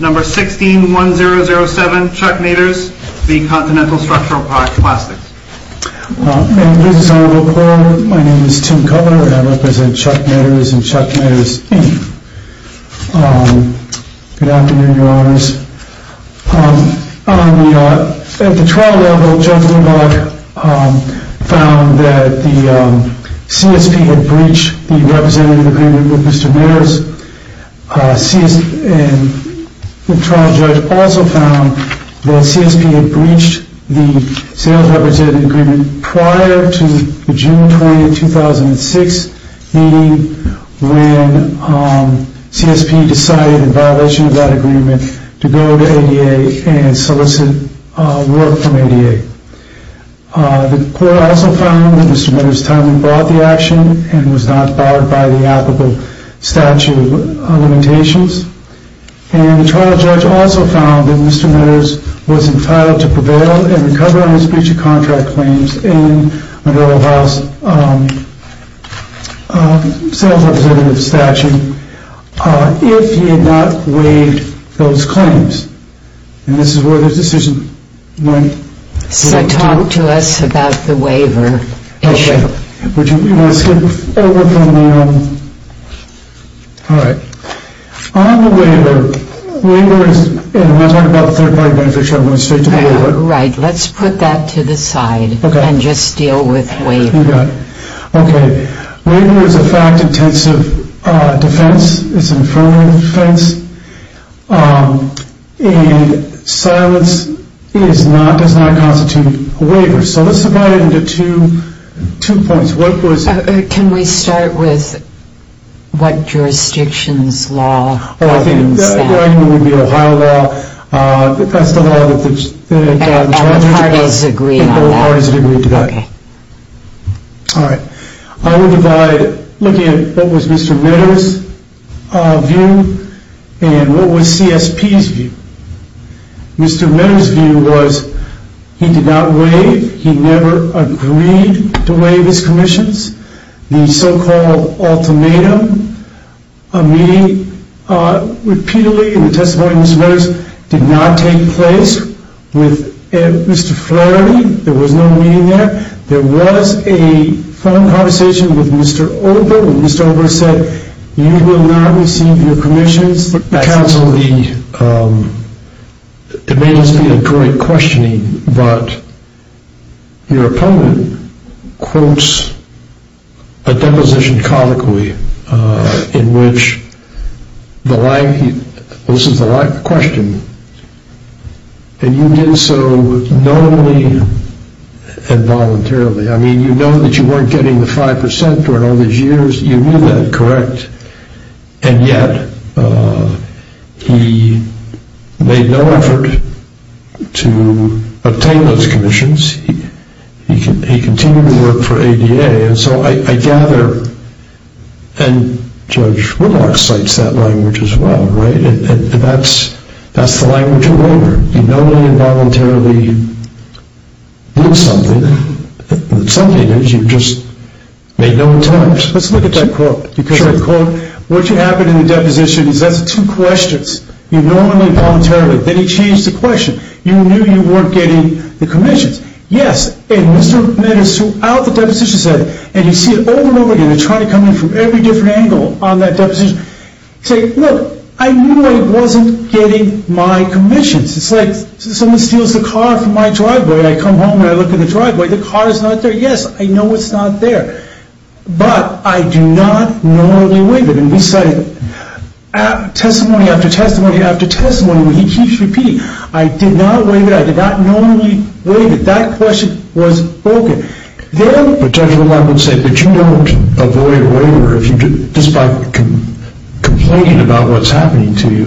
16-1007 Chuck Meadors v. Cont'l Structural Plastics This is Honorable Paul, my name is Tim Covenor and I represent Chuck Meadors and Chuck Meadors v. Good afternoon, your honors. At the trial level, Judge Leibach found that the CSP had breached the representative agreement with Mr. Meadors and the trial judge also found that CSP had breached the sales representative agreement prior to the June 20, 2006 meeting when CSP decided in violation of that agreement to go to ADA and solicit work from ADA. The court also found that Mr. Meadors' timing brought the action and was not barred by the applicable statute of limitations. The trial judge also found that Mr. Meadors was entitled to prevail and recover on his breach of contract claims in Honorable Paul's sales representative statute if he had not waived those claims. And this is where the decision went. So talk to us about the waiver issue. You want to skip over from the, alright. On the waiver, and we'll talk about the third party beneficiary when we get to the waiver. Right, let's put that to the side and just deal with waiver. You got it. Okay, waiver is a fact-intensive defense. It's an affirmative defense. And silence does not constitute a waiver. So let's divide it into two points. Can we start with what jurisdiction's law governs that? Oh, I think the Ohio law. That's the law that the... And what parties agree on that? You got it. Alright, I will divide, looking at what was Mr. Meadors' view and what was CSP's view. Mr. Meadors' view was he did not waive, he never agreed to waive his commissions. The so-called ultimatum, a meeting repeatedly in the testimony of Mr. Meadors did not take place. With Mr. Flaherty, there was no meeting there. There was a phone conversation with Mr. Olber when Mr. Olber said, you will not receive your commissions. Counsel, it may not be a great questioning, but your opponent quotes a deposition comically in which the line, this is the right question, and you did so knowingly and voluntarily. I mean, you know that you weren't getting the 5% during all these years. You knew that, correct? And yet, he made no effort to obtain those commissions. He continued to work for ADA. And so I gather, and Judge Whitlock cites that language as well, right? And that's the language of labor. You knowingly and voluntarily did something, but something is you just made no attempt. Let's look at that quote. Because the quote, what happened in the deposition is that's two questions. You knowingly and voluntarily. Then he changed the question. You knew you weren't getting the commissions. Yes, and Mr. Meadows throughout the deposition said, and you see it over and over again. They're trying to come in from every different angle on that deposition. Say, look, I knew I wasn't getting my commissions. It's like someone steals the car from my driveway. I come home and I look in the driveway. The car is not there. Yes, I know it's not there, but I do not knowingly waive it. And he cited testimony after testimony after testimony. He keeps repeating, I did not waive it. I did not knowingly waive it. That question was broken. Then the judge of the law would say, but you don't avoid a waiver just by complaining about what's happening to you.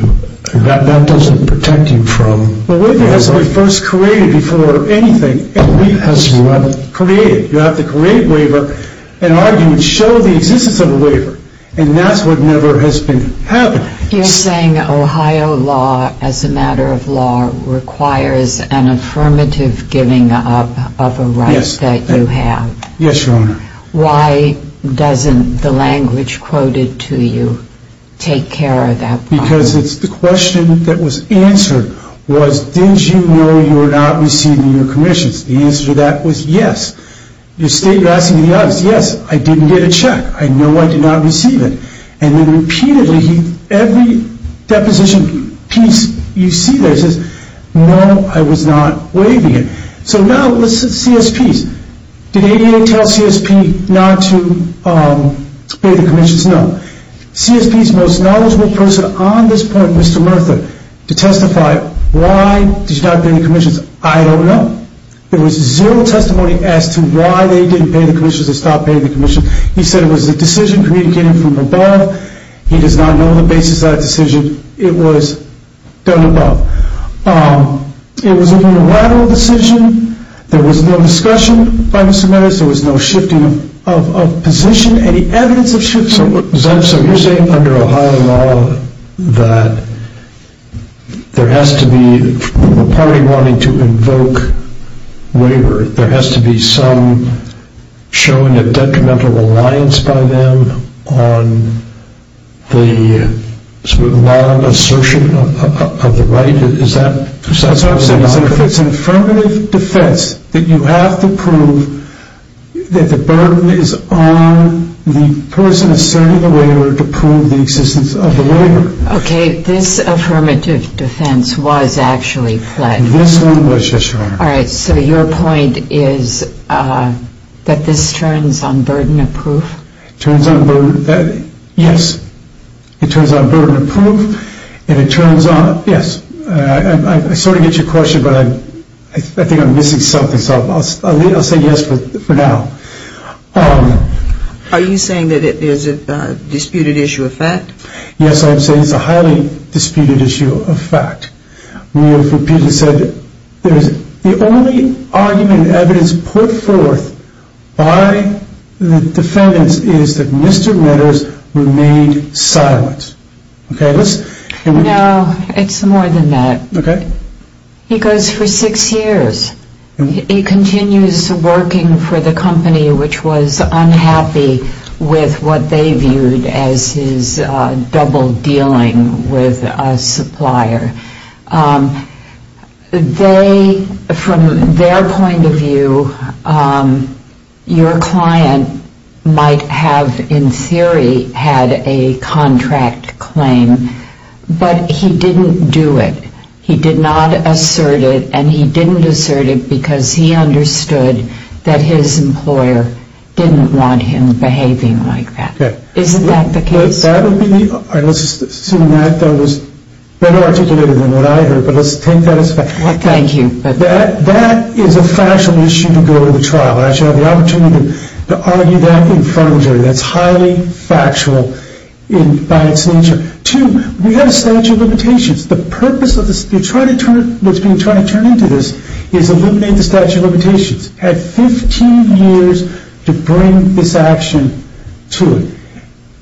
That doesn't protect you from. A waiver has to be first created before anything has to be created. You have to create a waiver and argue and show the existence of a waiver. And that's what never has been happening. You're saying Ohio law as a matter of law requires an affirmative giving up of a right that you have. Yes, Your Honor. Why doesn't the language quoted to you take care of that problem? Because it's the question that was answered was, did you know you were not receiving your commissions? The answer to that was yes. You state you're asking the audience, yes, I didn't get a check. I know I did not receive it. And then repeatedly, every deposition piece you see there says, no, I was not waiving it. So now let's see CSPs. Did ADA tell CSP not to pay the commissions? No. CSP's most knowledgeable person on this point, Mr. Murtha, to testify, why did you not pay the commissions? I don't know. There was zero testimony as to why they didn't pay the commissions, they stopped paying the commissions. He said it was a decision communicating from above. He does not know the basis of that decision. It was done above. It was a unilateral decision. There was no discussion by Mr. Meadows. There was no shifting of position, any evidence of shifting. So you're saying under Ohio law that there has to be a party wanting to invoke waiver, there has to be some showing of detrimental reliance by them on the law and assertion of the right? Is that precisely what you're talking about? That's what I'm saying. If it's an affirmative defense that you have to prove that the burden is on the person asserting the waiver to prove the existence of the waiver. Okay, this affirmative defense was actually pledged. This one was, yes, Your Honor. All right, so your point is that this turns on burden of proof? Yes, it turns on burden of proof, and it turns on, yes, I sort of get your question, but I think I'm missing something, so I'll say yes for now. Are you saying that it is a disputed issue of fact? Yes, I'm saying it's a highly disputed issue of fact. We have repeatedly said that the only argument and evidence put forth by the defendants is that Mr. Ritters remained silent. No, it's more than that. Okay. He goes for six years. He continues working for the company, which was unhappy with what they viewed as his double dealing with a supplier. They, from their point of view, your client might have in theory had a contract claim, but he didn't do it. He did not assert it, and he didn't assert it because he understood that his employer didn't want him behaving like that. Okay. Isn't that the case? That would be the, let's assume that was better articulated than what I heard, but let's take that as fact. Thank you. That is a factual issue to go to the trial, and I should have the opportunity to argue that in front of the jury. That's highly factual by its nature. Two, we have a statute of limitations. The purpose of this, what's being tried to turn into this is eliminate the statute of limitations. Had 15 years to bring this action to it.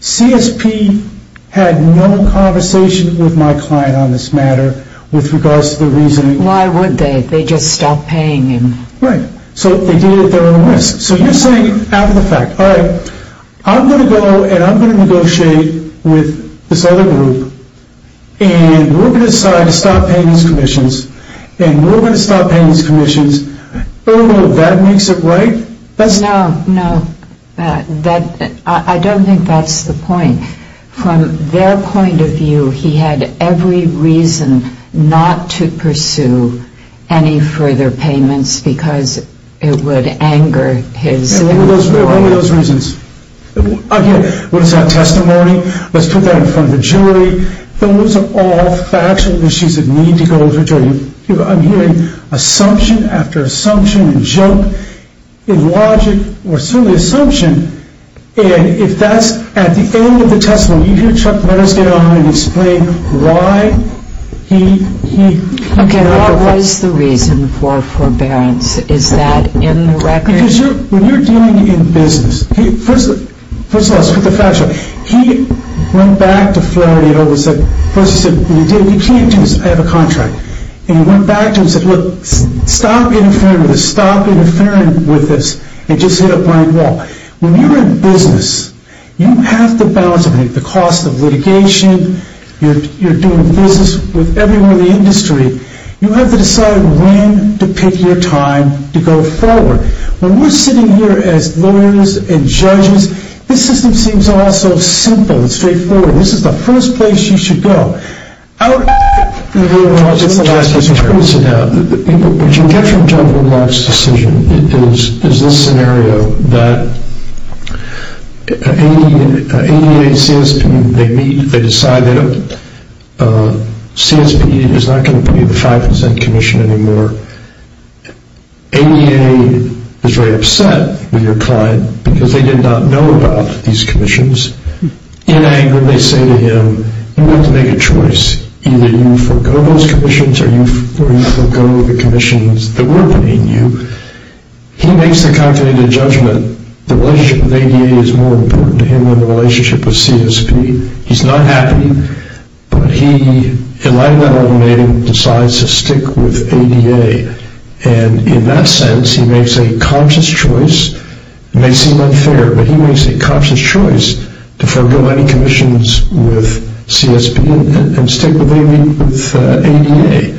CSP had no conversation with my client on this matter with regards to the reasoning. Why would they? They just stopped paying him. Right. So they did it at their own risk. So you're saying, out of the fact, all right, I'm going to go and I'm going to negotiate with this other group, and we're going to decide to stop paying these commissions, and we're going to stop paying these commissions. Oh, that makes it right? No, no. I don't think that's the point. From their point of view, he had every reason not to pursue any further payments because it would anger his lawyer. And what were those reasons? Again, what is that testimony? Let's put that in front of the jury. Those are all factual issues that need to go to the jury. I'm hearing assumption after assumption and joke in logic, or certainly assumption, and if that's at the end of the testimony, you hear Chuck Letters get on and explain why he did that. Okay, what was the reason for forbearance? Is that in the record? Because when you're dealing in business, first of all, let's put the factual. He went back to Flaherty and said, first he said, you can't do this, I have a contract. And he went back to him and said, look, stop interfering with this, stop interfering with this, and just hit a blind wall. When you're in business, you have to balance the cost of litigation, you're doing business with everyone in the industry, you have to decide when to pick your time to go forward. When we're sitting here as lawyers and judges, this system seems all so simple and straightforward. This is the first place you should go. What you get from John Woodlock's decision is this scenario that ADA, CSP, they meet, they decide that CSP is not going to put you in the 5% commission anymore. ADA is very upset with your client because they did not know about these commissions. In anger, they say to him, you have to make a choice. Either you forego those commissions or you forego the commissions that were putting you. He makes the concluded judgment the relationship with ADA is more important to him than the relationship with CSP. He's not happy. But he, in light of that argument, decides to stick with ADA. And in that sense, he makes a conscious choice. It may seem unfair, but he makes a conscious choice to forego any commissions with CSP and stick with ADA.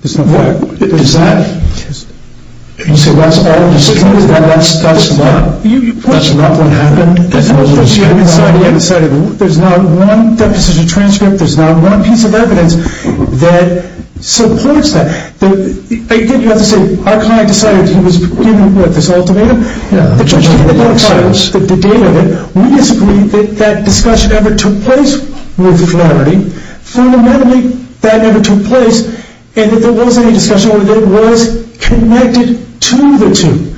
That's not what happened. There's not one deposition transcript. There's not one piece of evidence that supports that. You have to say our client decided he was given this ultimatum. The judge came to the court and filed it. The date of it, we disagree that that discussion ever took place with clarity. Fundamentally, that never took place. And if there was any discussion, it was connected to the two.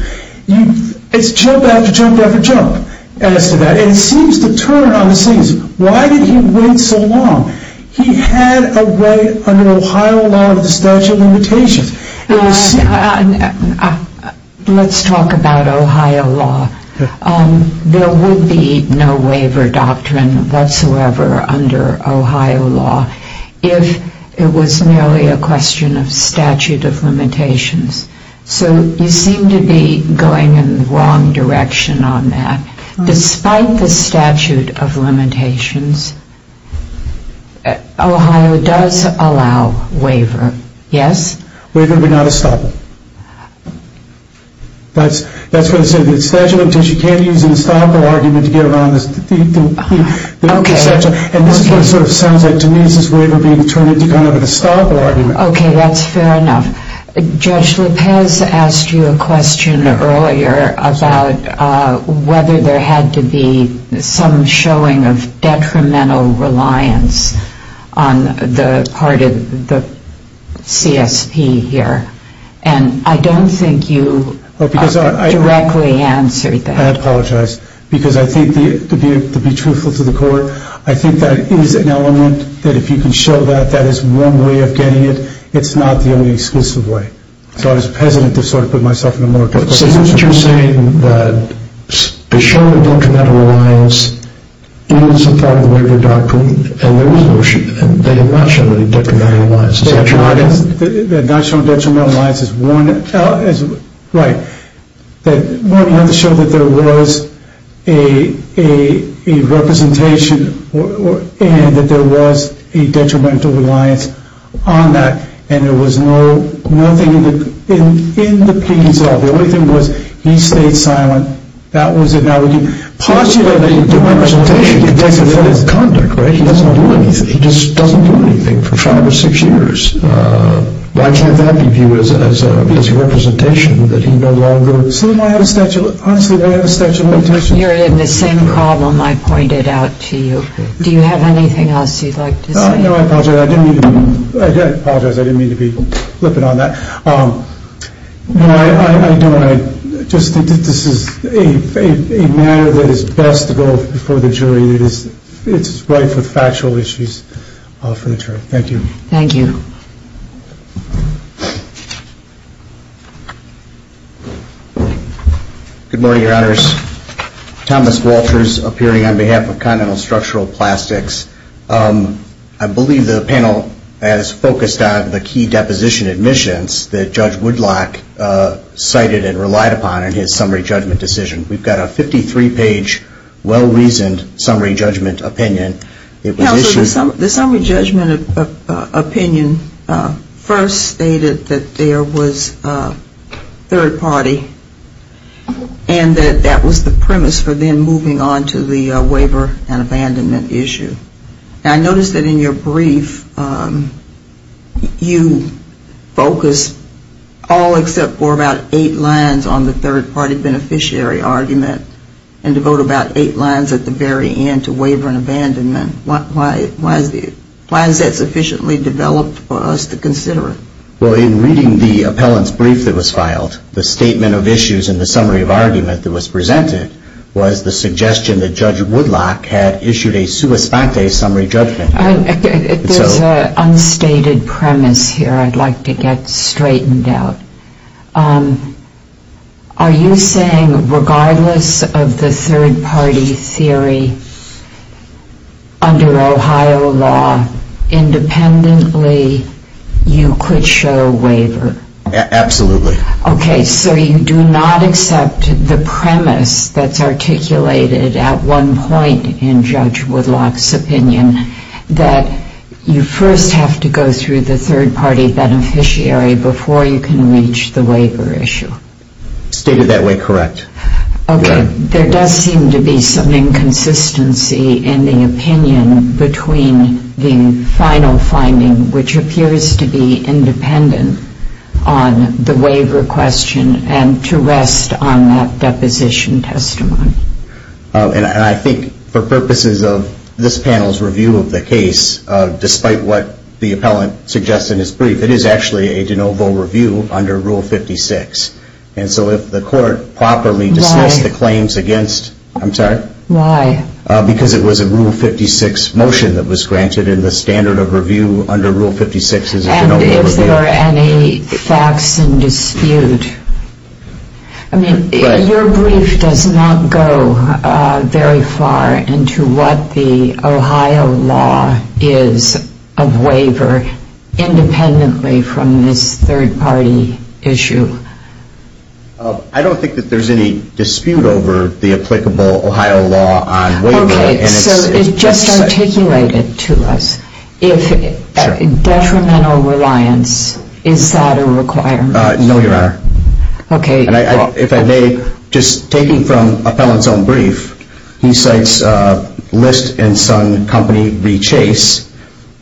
It's jump after jump after jump as to that. And it seems to turn on the scenes. Why did he wait so long? He had a right under Ohio law of the statute of limitations. Let's talk about Ohio law. There would be no waiver doctrine whatsoever under Ohio law if it was merely a question of statute of limitations. So you seem to be going in the wrong direction on that. Despite the statute of limitations, Ohio does allow waiver. Yes? Waiver would not stop it. That's what it says in the statute of limitations. You can't use an historical argument to get around the statute. And this is what it sort of sounds like to me. Is this waiver being turned into kind of a historical argument? Okay, that's fair enough. Judge Lopez asked you a question earlier about whether there had to be some showing of detrimental reliance on the part of the CSP here. And I don't think you directly answered that. I apologize. Because I think, to be truthful to the court, I think that is an element that if you can show that that is one way of getting it, it's not the only exclusive way. So I was hesitant to sort of put myself in a more... But isn't what you're saying that the showing of detrimental reliance is a part of the waiver doctrine? And there was a notion that they did not show any detrimental reliance. The notion of detrimental reliance is one... Right. One, you have to show that there was a representation and that there was a detrimental reliance on that, and there was nothing in the piece at all. The only thing was he stayed silent. That was it. Now, would you pause you there? The representation could take effect. He doesn't do anything. He just doesn't do anything for five or six years. Why can't that be viewed as a representation that he no longer... See, honestly, I have a statute of limitations. You're in the same problem I pointed out to you. Do you have anything else you'd like to say? No, I apologize. I didn't mean to be flippant on that. No, I know I just think that this is a matter that is best to go before the jury. It's right for factual issues for the jury. Thank you. Thank you. Good morning, Your Honors. Thomas Walters, appearing on behalf of Continental Structural Plastics. I believe the panel has focused on the key deposition admissions that Judge Woodlock cited and relied upon in his summary judgment decision. We've got a 53-page well-reasoned summary judgment opinion. The summary judgment opinion first stated that there was third party and that that was the premise for them moving on to the waiver and abandonment issue. I noticed that in your brief you focused all except for about eight lines on the third party beneficiary argument and devote about eight lines at the very end to waiver and abandonment. Why is that sufficiently developed for us to consider? Well, in reading the appellant's brief that was filed, the statement of issues in the summary of argument that was presented was the suggestion that Judge Woodlock had issued a sua spate summary judgment. There's an unstated premise here I'd like to get straightened out. Are you saying regardless of the third party theory under Ohio law, independently you could show waiver? Absolutely. Okay, so you do not accept the premise that's articulated at one point in Judge Woodlock's opinion that you first have to go through the third party beneficiary before you can reach the waiver issue? Stated that way, correct. Okay. There does seem to be some inconsistency in the opinion between the final finding, which appears to be independent on the waiver question and to rest on that deposition testimony. And I think for purposes of this panel's review of the case, despite what the appellant suggests in his brief, it is actually a de novo review under Rule 56. And so if the court properly dismissed the claims against, I'm sorry? Why? Because it was a Rule 56 motion that was granted and the standard of review under Rule 56 is a de novo review. And if there are any facts in dispute? I mean, your brief does not go very far into what the Ohio law is of waiver, independently from this third party issue. I don't think that there's any dispute over the applicable Ohio law on waiver. Okay, so it's just articulated to us. If detrimental reliance, is that a requirement? No, Your Honor. Okay. If I may, just taking from appellant's own brief, he cites List and Son Company v. Chase,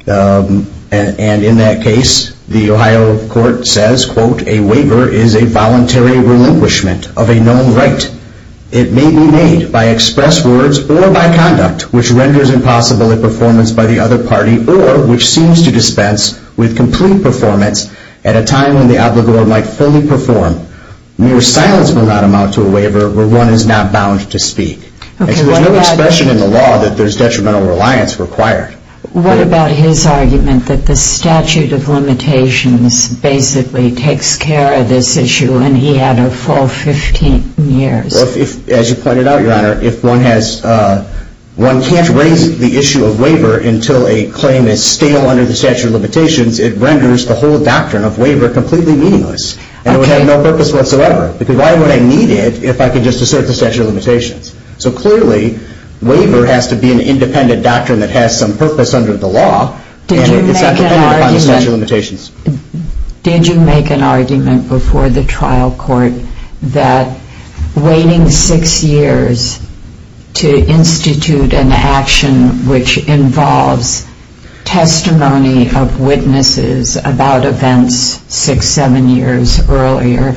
and in that case the Ohio court says, quote, a waiver is a voluntary relinquishment of a known right. It may be made by express words or by conduct, which renders impossible a performance by the other party or which seems to dispense with complete performance at a time when the obligor might fully perform. Mere silence will not amount to a waiver where one is not bound to speak. There's no expression in the law that there's detrimental reliance required. What about his argument that the statute of limitations basically takes care of this issue when he had a full 15 years? As you pointed out, Your Honor, if one can't raise the issue of waiver until a claim is stale under the statute of limitations, it renders the whole doctrine of waiver completely meaningless and it would have no purpose whatsoever because why would I need it if I could just assert the statute of limitations? So clearly, waiver has to be an independent doctrine that has some purpose under the law and it's not dependent upon the statute of limitations. Did you make an argument before the trial court that waiting six years to institute an action which involves testimony of witnesses about events six, seven years earlier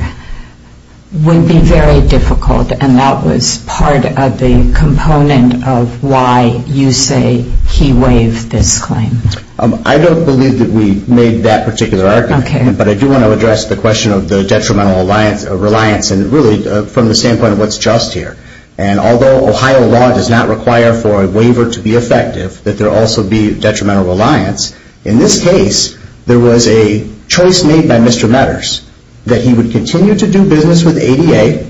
would be very difficult and that was part of the component of why you say he waived this claim? I don't believe that we made that particular argument. Okay. But I do want to address the question of the detrimental reliance and really from the standpoint of what's just here. And although Ohio law does not require for a waiver to be effective, that there also be detrimental reliance, in this case there was a choice made by Mr. Meaders that he would continue to do business with ADA.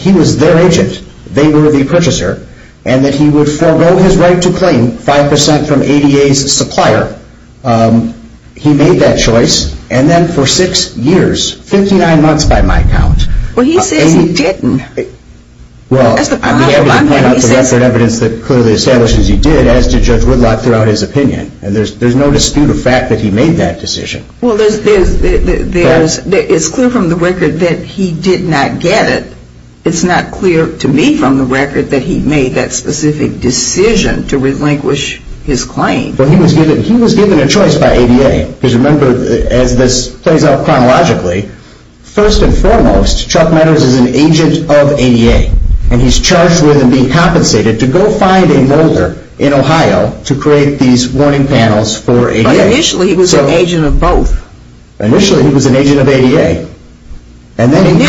He was their agent. They were the purchaser. And that he would forego his right to claim 5% from ADA's supplier. He made that choice. And then for six years, 59 months by my count, Well, he says he didn't. Well, I'm happy to point out the record evidence that clearly establishes he did, as did Judge Woodlot throughout his opinion. And there's no dispute of fact that he made that decision. Well, it's clear from the record that he did not get it. It's not clear to me from the record that he made that specific decision to relinquish his claim. Well, he was given a choice by ADA. Because remember, as this plays out chronologically, first and foremost, Chuck Meaders is an agent of ADA. And he's charged with him being compensated to go find a molder in Ohio to create these warning panels for ADA. But initially he was an agent of both. Initially he was an agent of ADA. And then he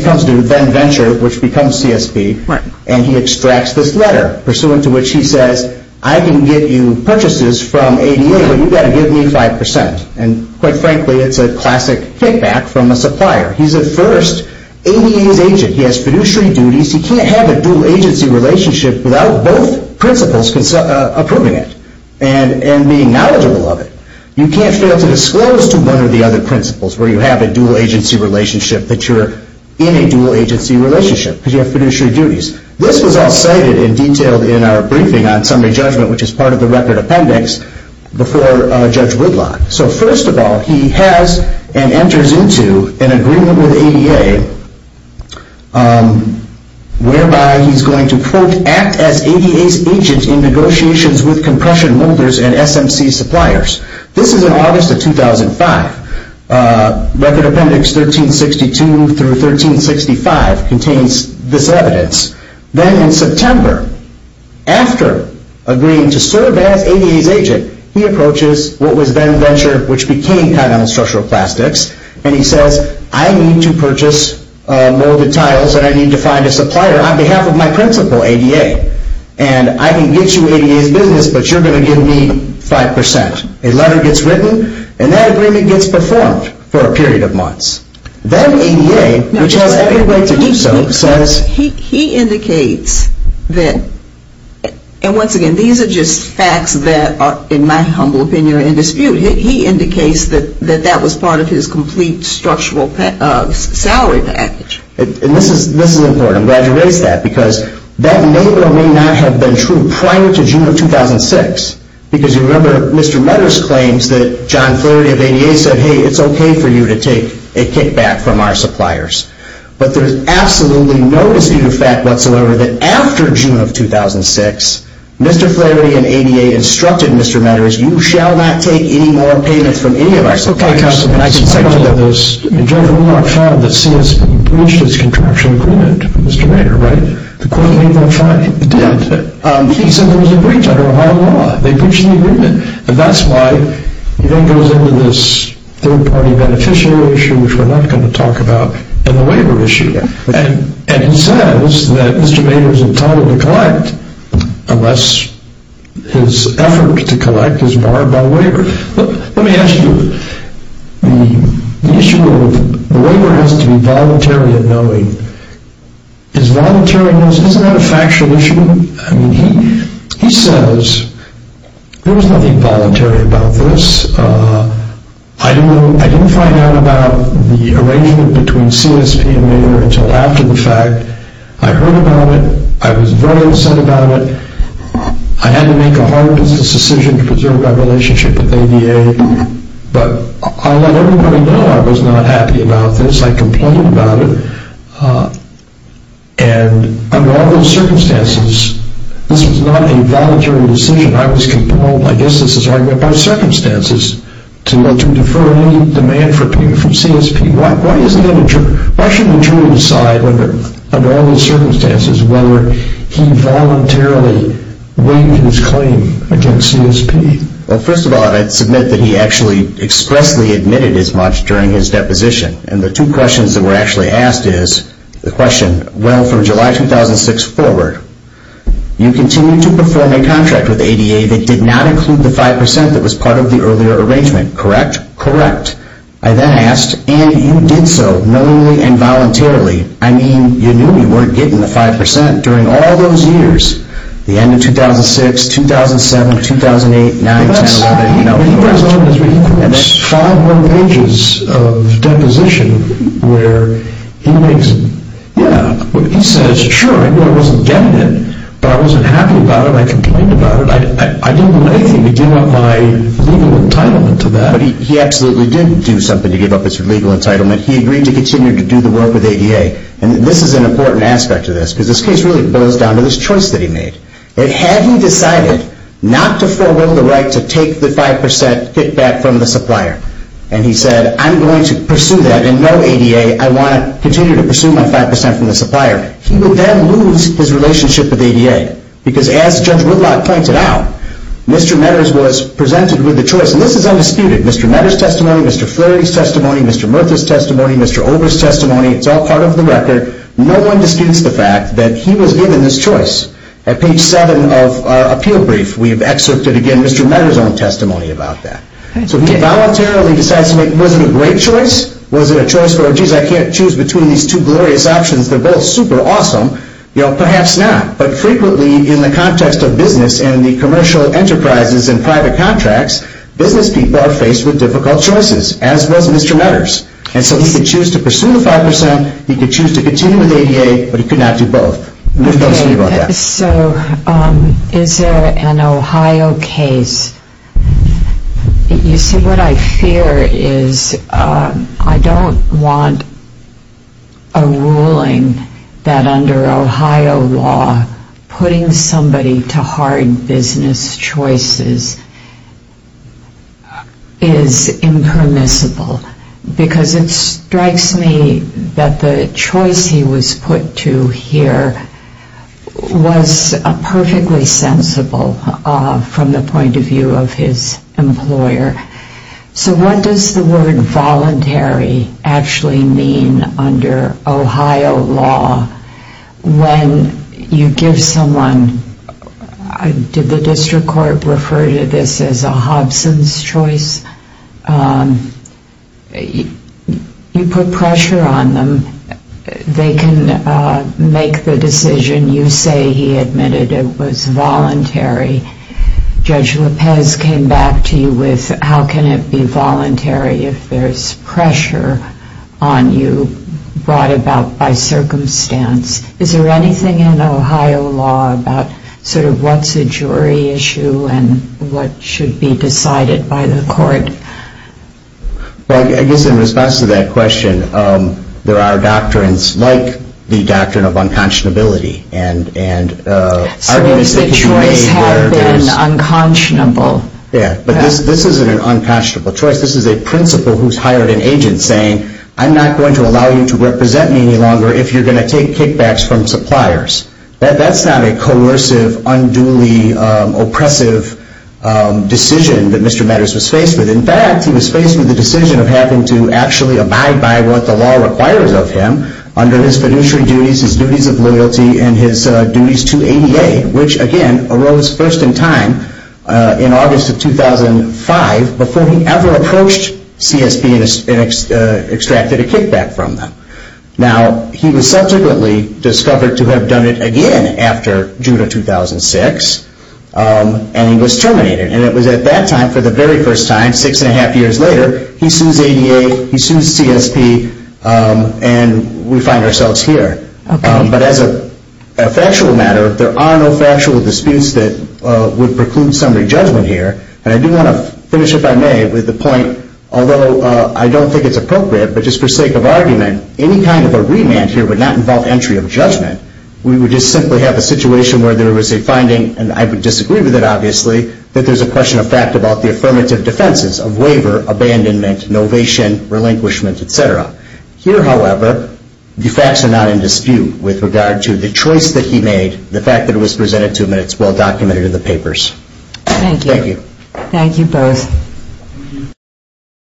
comes to Venture, which becomes CSB, and he extracts this letter, pursuant to which he says, I can get you purchases from ADA, but you've got to give me 5%. And quite frankly, it's a classic kickback from a supplier. He's at first ADA's agent. He has fiduciary duties. He can't have a dual agency relationship without both principles approving it and being knowledgeable of it. You can't fail to disclose to one or the other principles where you have a dual agency relationship that you're in a dual agency relationship because you have fiduciary duties. This was all cited and detailed in our briefing on summary judgment, which is part of the record appendix, before Judge Woodlock. So first of all, he has and enters into an agreement with ADA whereby he's going to, quote, act as ADA's agent in negotiations with compression molders and SMC suppliers. This is in August of 2005. Record Appendix 1362 through 1365 contains this evidence. Then in September, after agreeing to serve as ADA's agent, he approaches what was then Venture, which became Continental Structural Plastics, and he says, I need to purchase molded tiles and I need to find a supplier on behalf of my principal, ADA. And I can get you ADA's business, but you're going to give me 5%. A letter gets written, and that agreement gets performed for a period of months. Then ADA, which has every way to do so, says he indicates that, and once again, these are just facts that are, in my humble opinion, are in dispute. He indicates that that was part of his complete structural salary package. And this is important. I'm glad you raised that because that may or may not have been true prior to June of 2006 because you remember Mr. Meadors claims that John Flurry of ADA said, hey, it's okay for you to take a kickback from our suppliers. But there's absolutely no dispute of fact whatsoever that after June of 2006, Mr. Flurry and ADA instructed Mr. Meadors, you shall not take any more payments from any of our suppliers. Okay, Counselor. And I can settle on this. In general, we're not found that CS breached its contractual agreement with Mr. Meador, right? The court made that finding. It did. He said there was a breach under Ohio law. They breached the agreement. And that's why it then goes into this third-party beneficiary issue, which we're not going to talk about, and the waiver issue. And he says that Mr. Meadors is entitled to collect unless his effort to collect is barred by waiver. Let me ask you, the issue of the waiver has to be voluntary in knowing. Is voluntary in knowing, isn't that a factual issue? I mean, he says there was nothing voluntary about this. I didn't find out about the arrangement between CSP and Meador until after the fact. I heard about it. I was very upset about it. I had to make a hard decision to preserve my relationship with ADA. But I let everybody know I was not happy about this. I complained about it. And under all those circumstances, this was not a voluntary decision. I was compelled, I guess this is an argument by circumstances, to defer any demand for payment from CSP. Why shouldn't the jury decide under all those circumstances whether he voluntarily waived his claim against CSP? Well, first of all, I'd submit that he actually expressly admitted as much during his deposition. And the two questions that were actually asked is the question, Well, from July 2006 forward, you continued to perform a contract with ADA that did not include the 5% that was part of the earlier arrangement, correct? Correct. I then asked, and you did so knowingly and voluntarily. I mean, you knew you weren't getting the 5% during all those years, the end of 2006, 2007, 2008, 2009, 2010, 2011. And that's five more pages of deposition where he makes, yeah, he says, Sure, I knew I wasn't getting it, but I wasn't happy about it. I complained about it. I didn't do anything to give up my legal entitlement to that. But he absolutely did do something to give up his legal entitlement. He agreed to continue to do the work with ADA. And this is an important aspect of this, because this case really boils down to this choice that he made. Had he decided not to forego the right to take the 5% kickback from the supplier and he said, I'm going to pursue that and know ADA, I want to continue to pursue my 5% from the supplier, he would then lose his relationship with ADA. Because as Judge Whitlock pointed out, Mr. Meadows was presented with a choice, and this is undisputed. Mr. Meadows' testimony, Mr. Flaherty's testimony, Mr. Murtha's testimony, Mr. Ober's testimony, it's all part of the record. No one disputes the fact that he was given this choice. At page 7 of our appeal brief, we've excerpted, again, Mr. Meadows' own testimony about that. So he voluntarily decides to make, was it a great choice? Was it a choice where, geez, I can't choose between these two glorious options. They're both super awesome. Perhaps not. But frequently in the context of business and the commercial enterprises and private contracts, business people are faced with difficult choices, as was Mr. Meadows. And so he could choose to pursue the 5%. He could choose to continue with ADA. But he could not do both. So is there an Ohio case? You see, what I fear is I don't want a ruling that under Ohio law, putting somebody to hard business choices is impermissible. Because it strikes me that the choice he was put to here was perfectly sensible from the point of view of his employer. So what does the word voluntary actually mean under Ohio law when you give someone, did the district court refer to this as a Hobson's choice? You put pressure on them. They can make the decision. You say he admitted it was voluntary. Judge Lopez came back to you with how can it be voluntary if there's pressure on you brought about by circumstance. Is there anything in Ohio law about sort of what's a jury issue and what should be decided by the court? Well, I guess in response to that question, there are doctrines like the doctrine of unconscionability. So is the choice had been unconscionable? Yeah, but this isn't an unconscionable choice. This is a principal who's hired an agent saying, I'm not going to allow you to represent me any longer if you're going to take kickbacks from suppliers. That's not a coercive, unduly oppressive decision that Mr. Matters was faced with. In fact, he was faced with the decision of having to actually abide by what the law requires of him under his fiduciary duties, his duties of loyalty, and his duties to ADA, which again arose first in time in August of 2005 before he ever approached CSB and extracted a kickback from them. Now, he was subsequently discovered to have done it again after June of 2006, and he was terminated. And it was at that time for the very first time, six and a half years later, he sues ADA, he sues CSB, and we find ourselves here. But as a factual matter, there are no factual disputes that would preclude summary judgment here. And I do want to finish, if I may, with the point, although I don't think it's appropriate, but just for sake of argument, any kind of a remand here would not involve entry of judgment. We would just simply have a situation where there was a finding, and I would disagree with it obviously, that there's a question of fact about the affirmative defenses of waiver, abandonment, novation, relinquishment, etc. Here, however, the facts are not in dispute with regard to the choice that he made, the fact that it was presented to him, and it's well documented in the papers. Thank you. Thank you. Thank you both.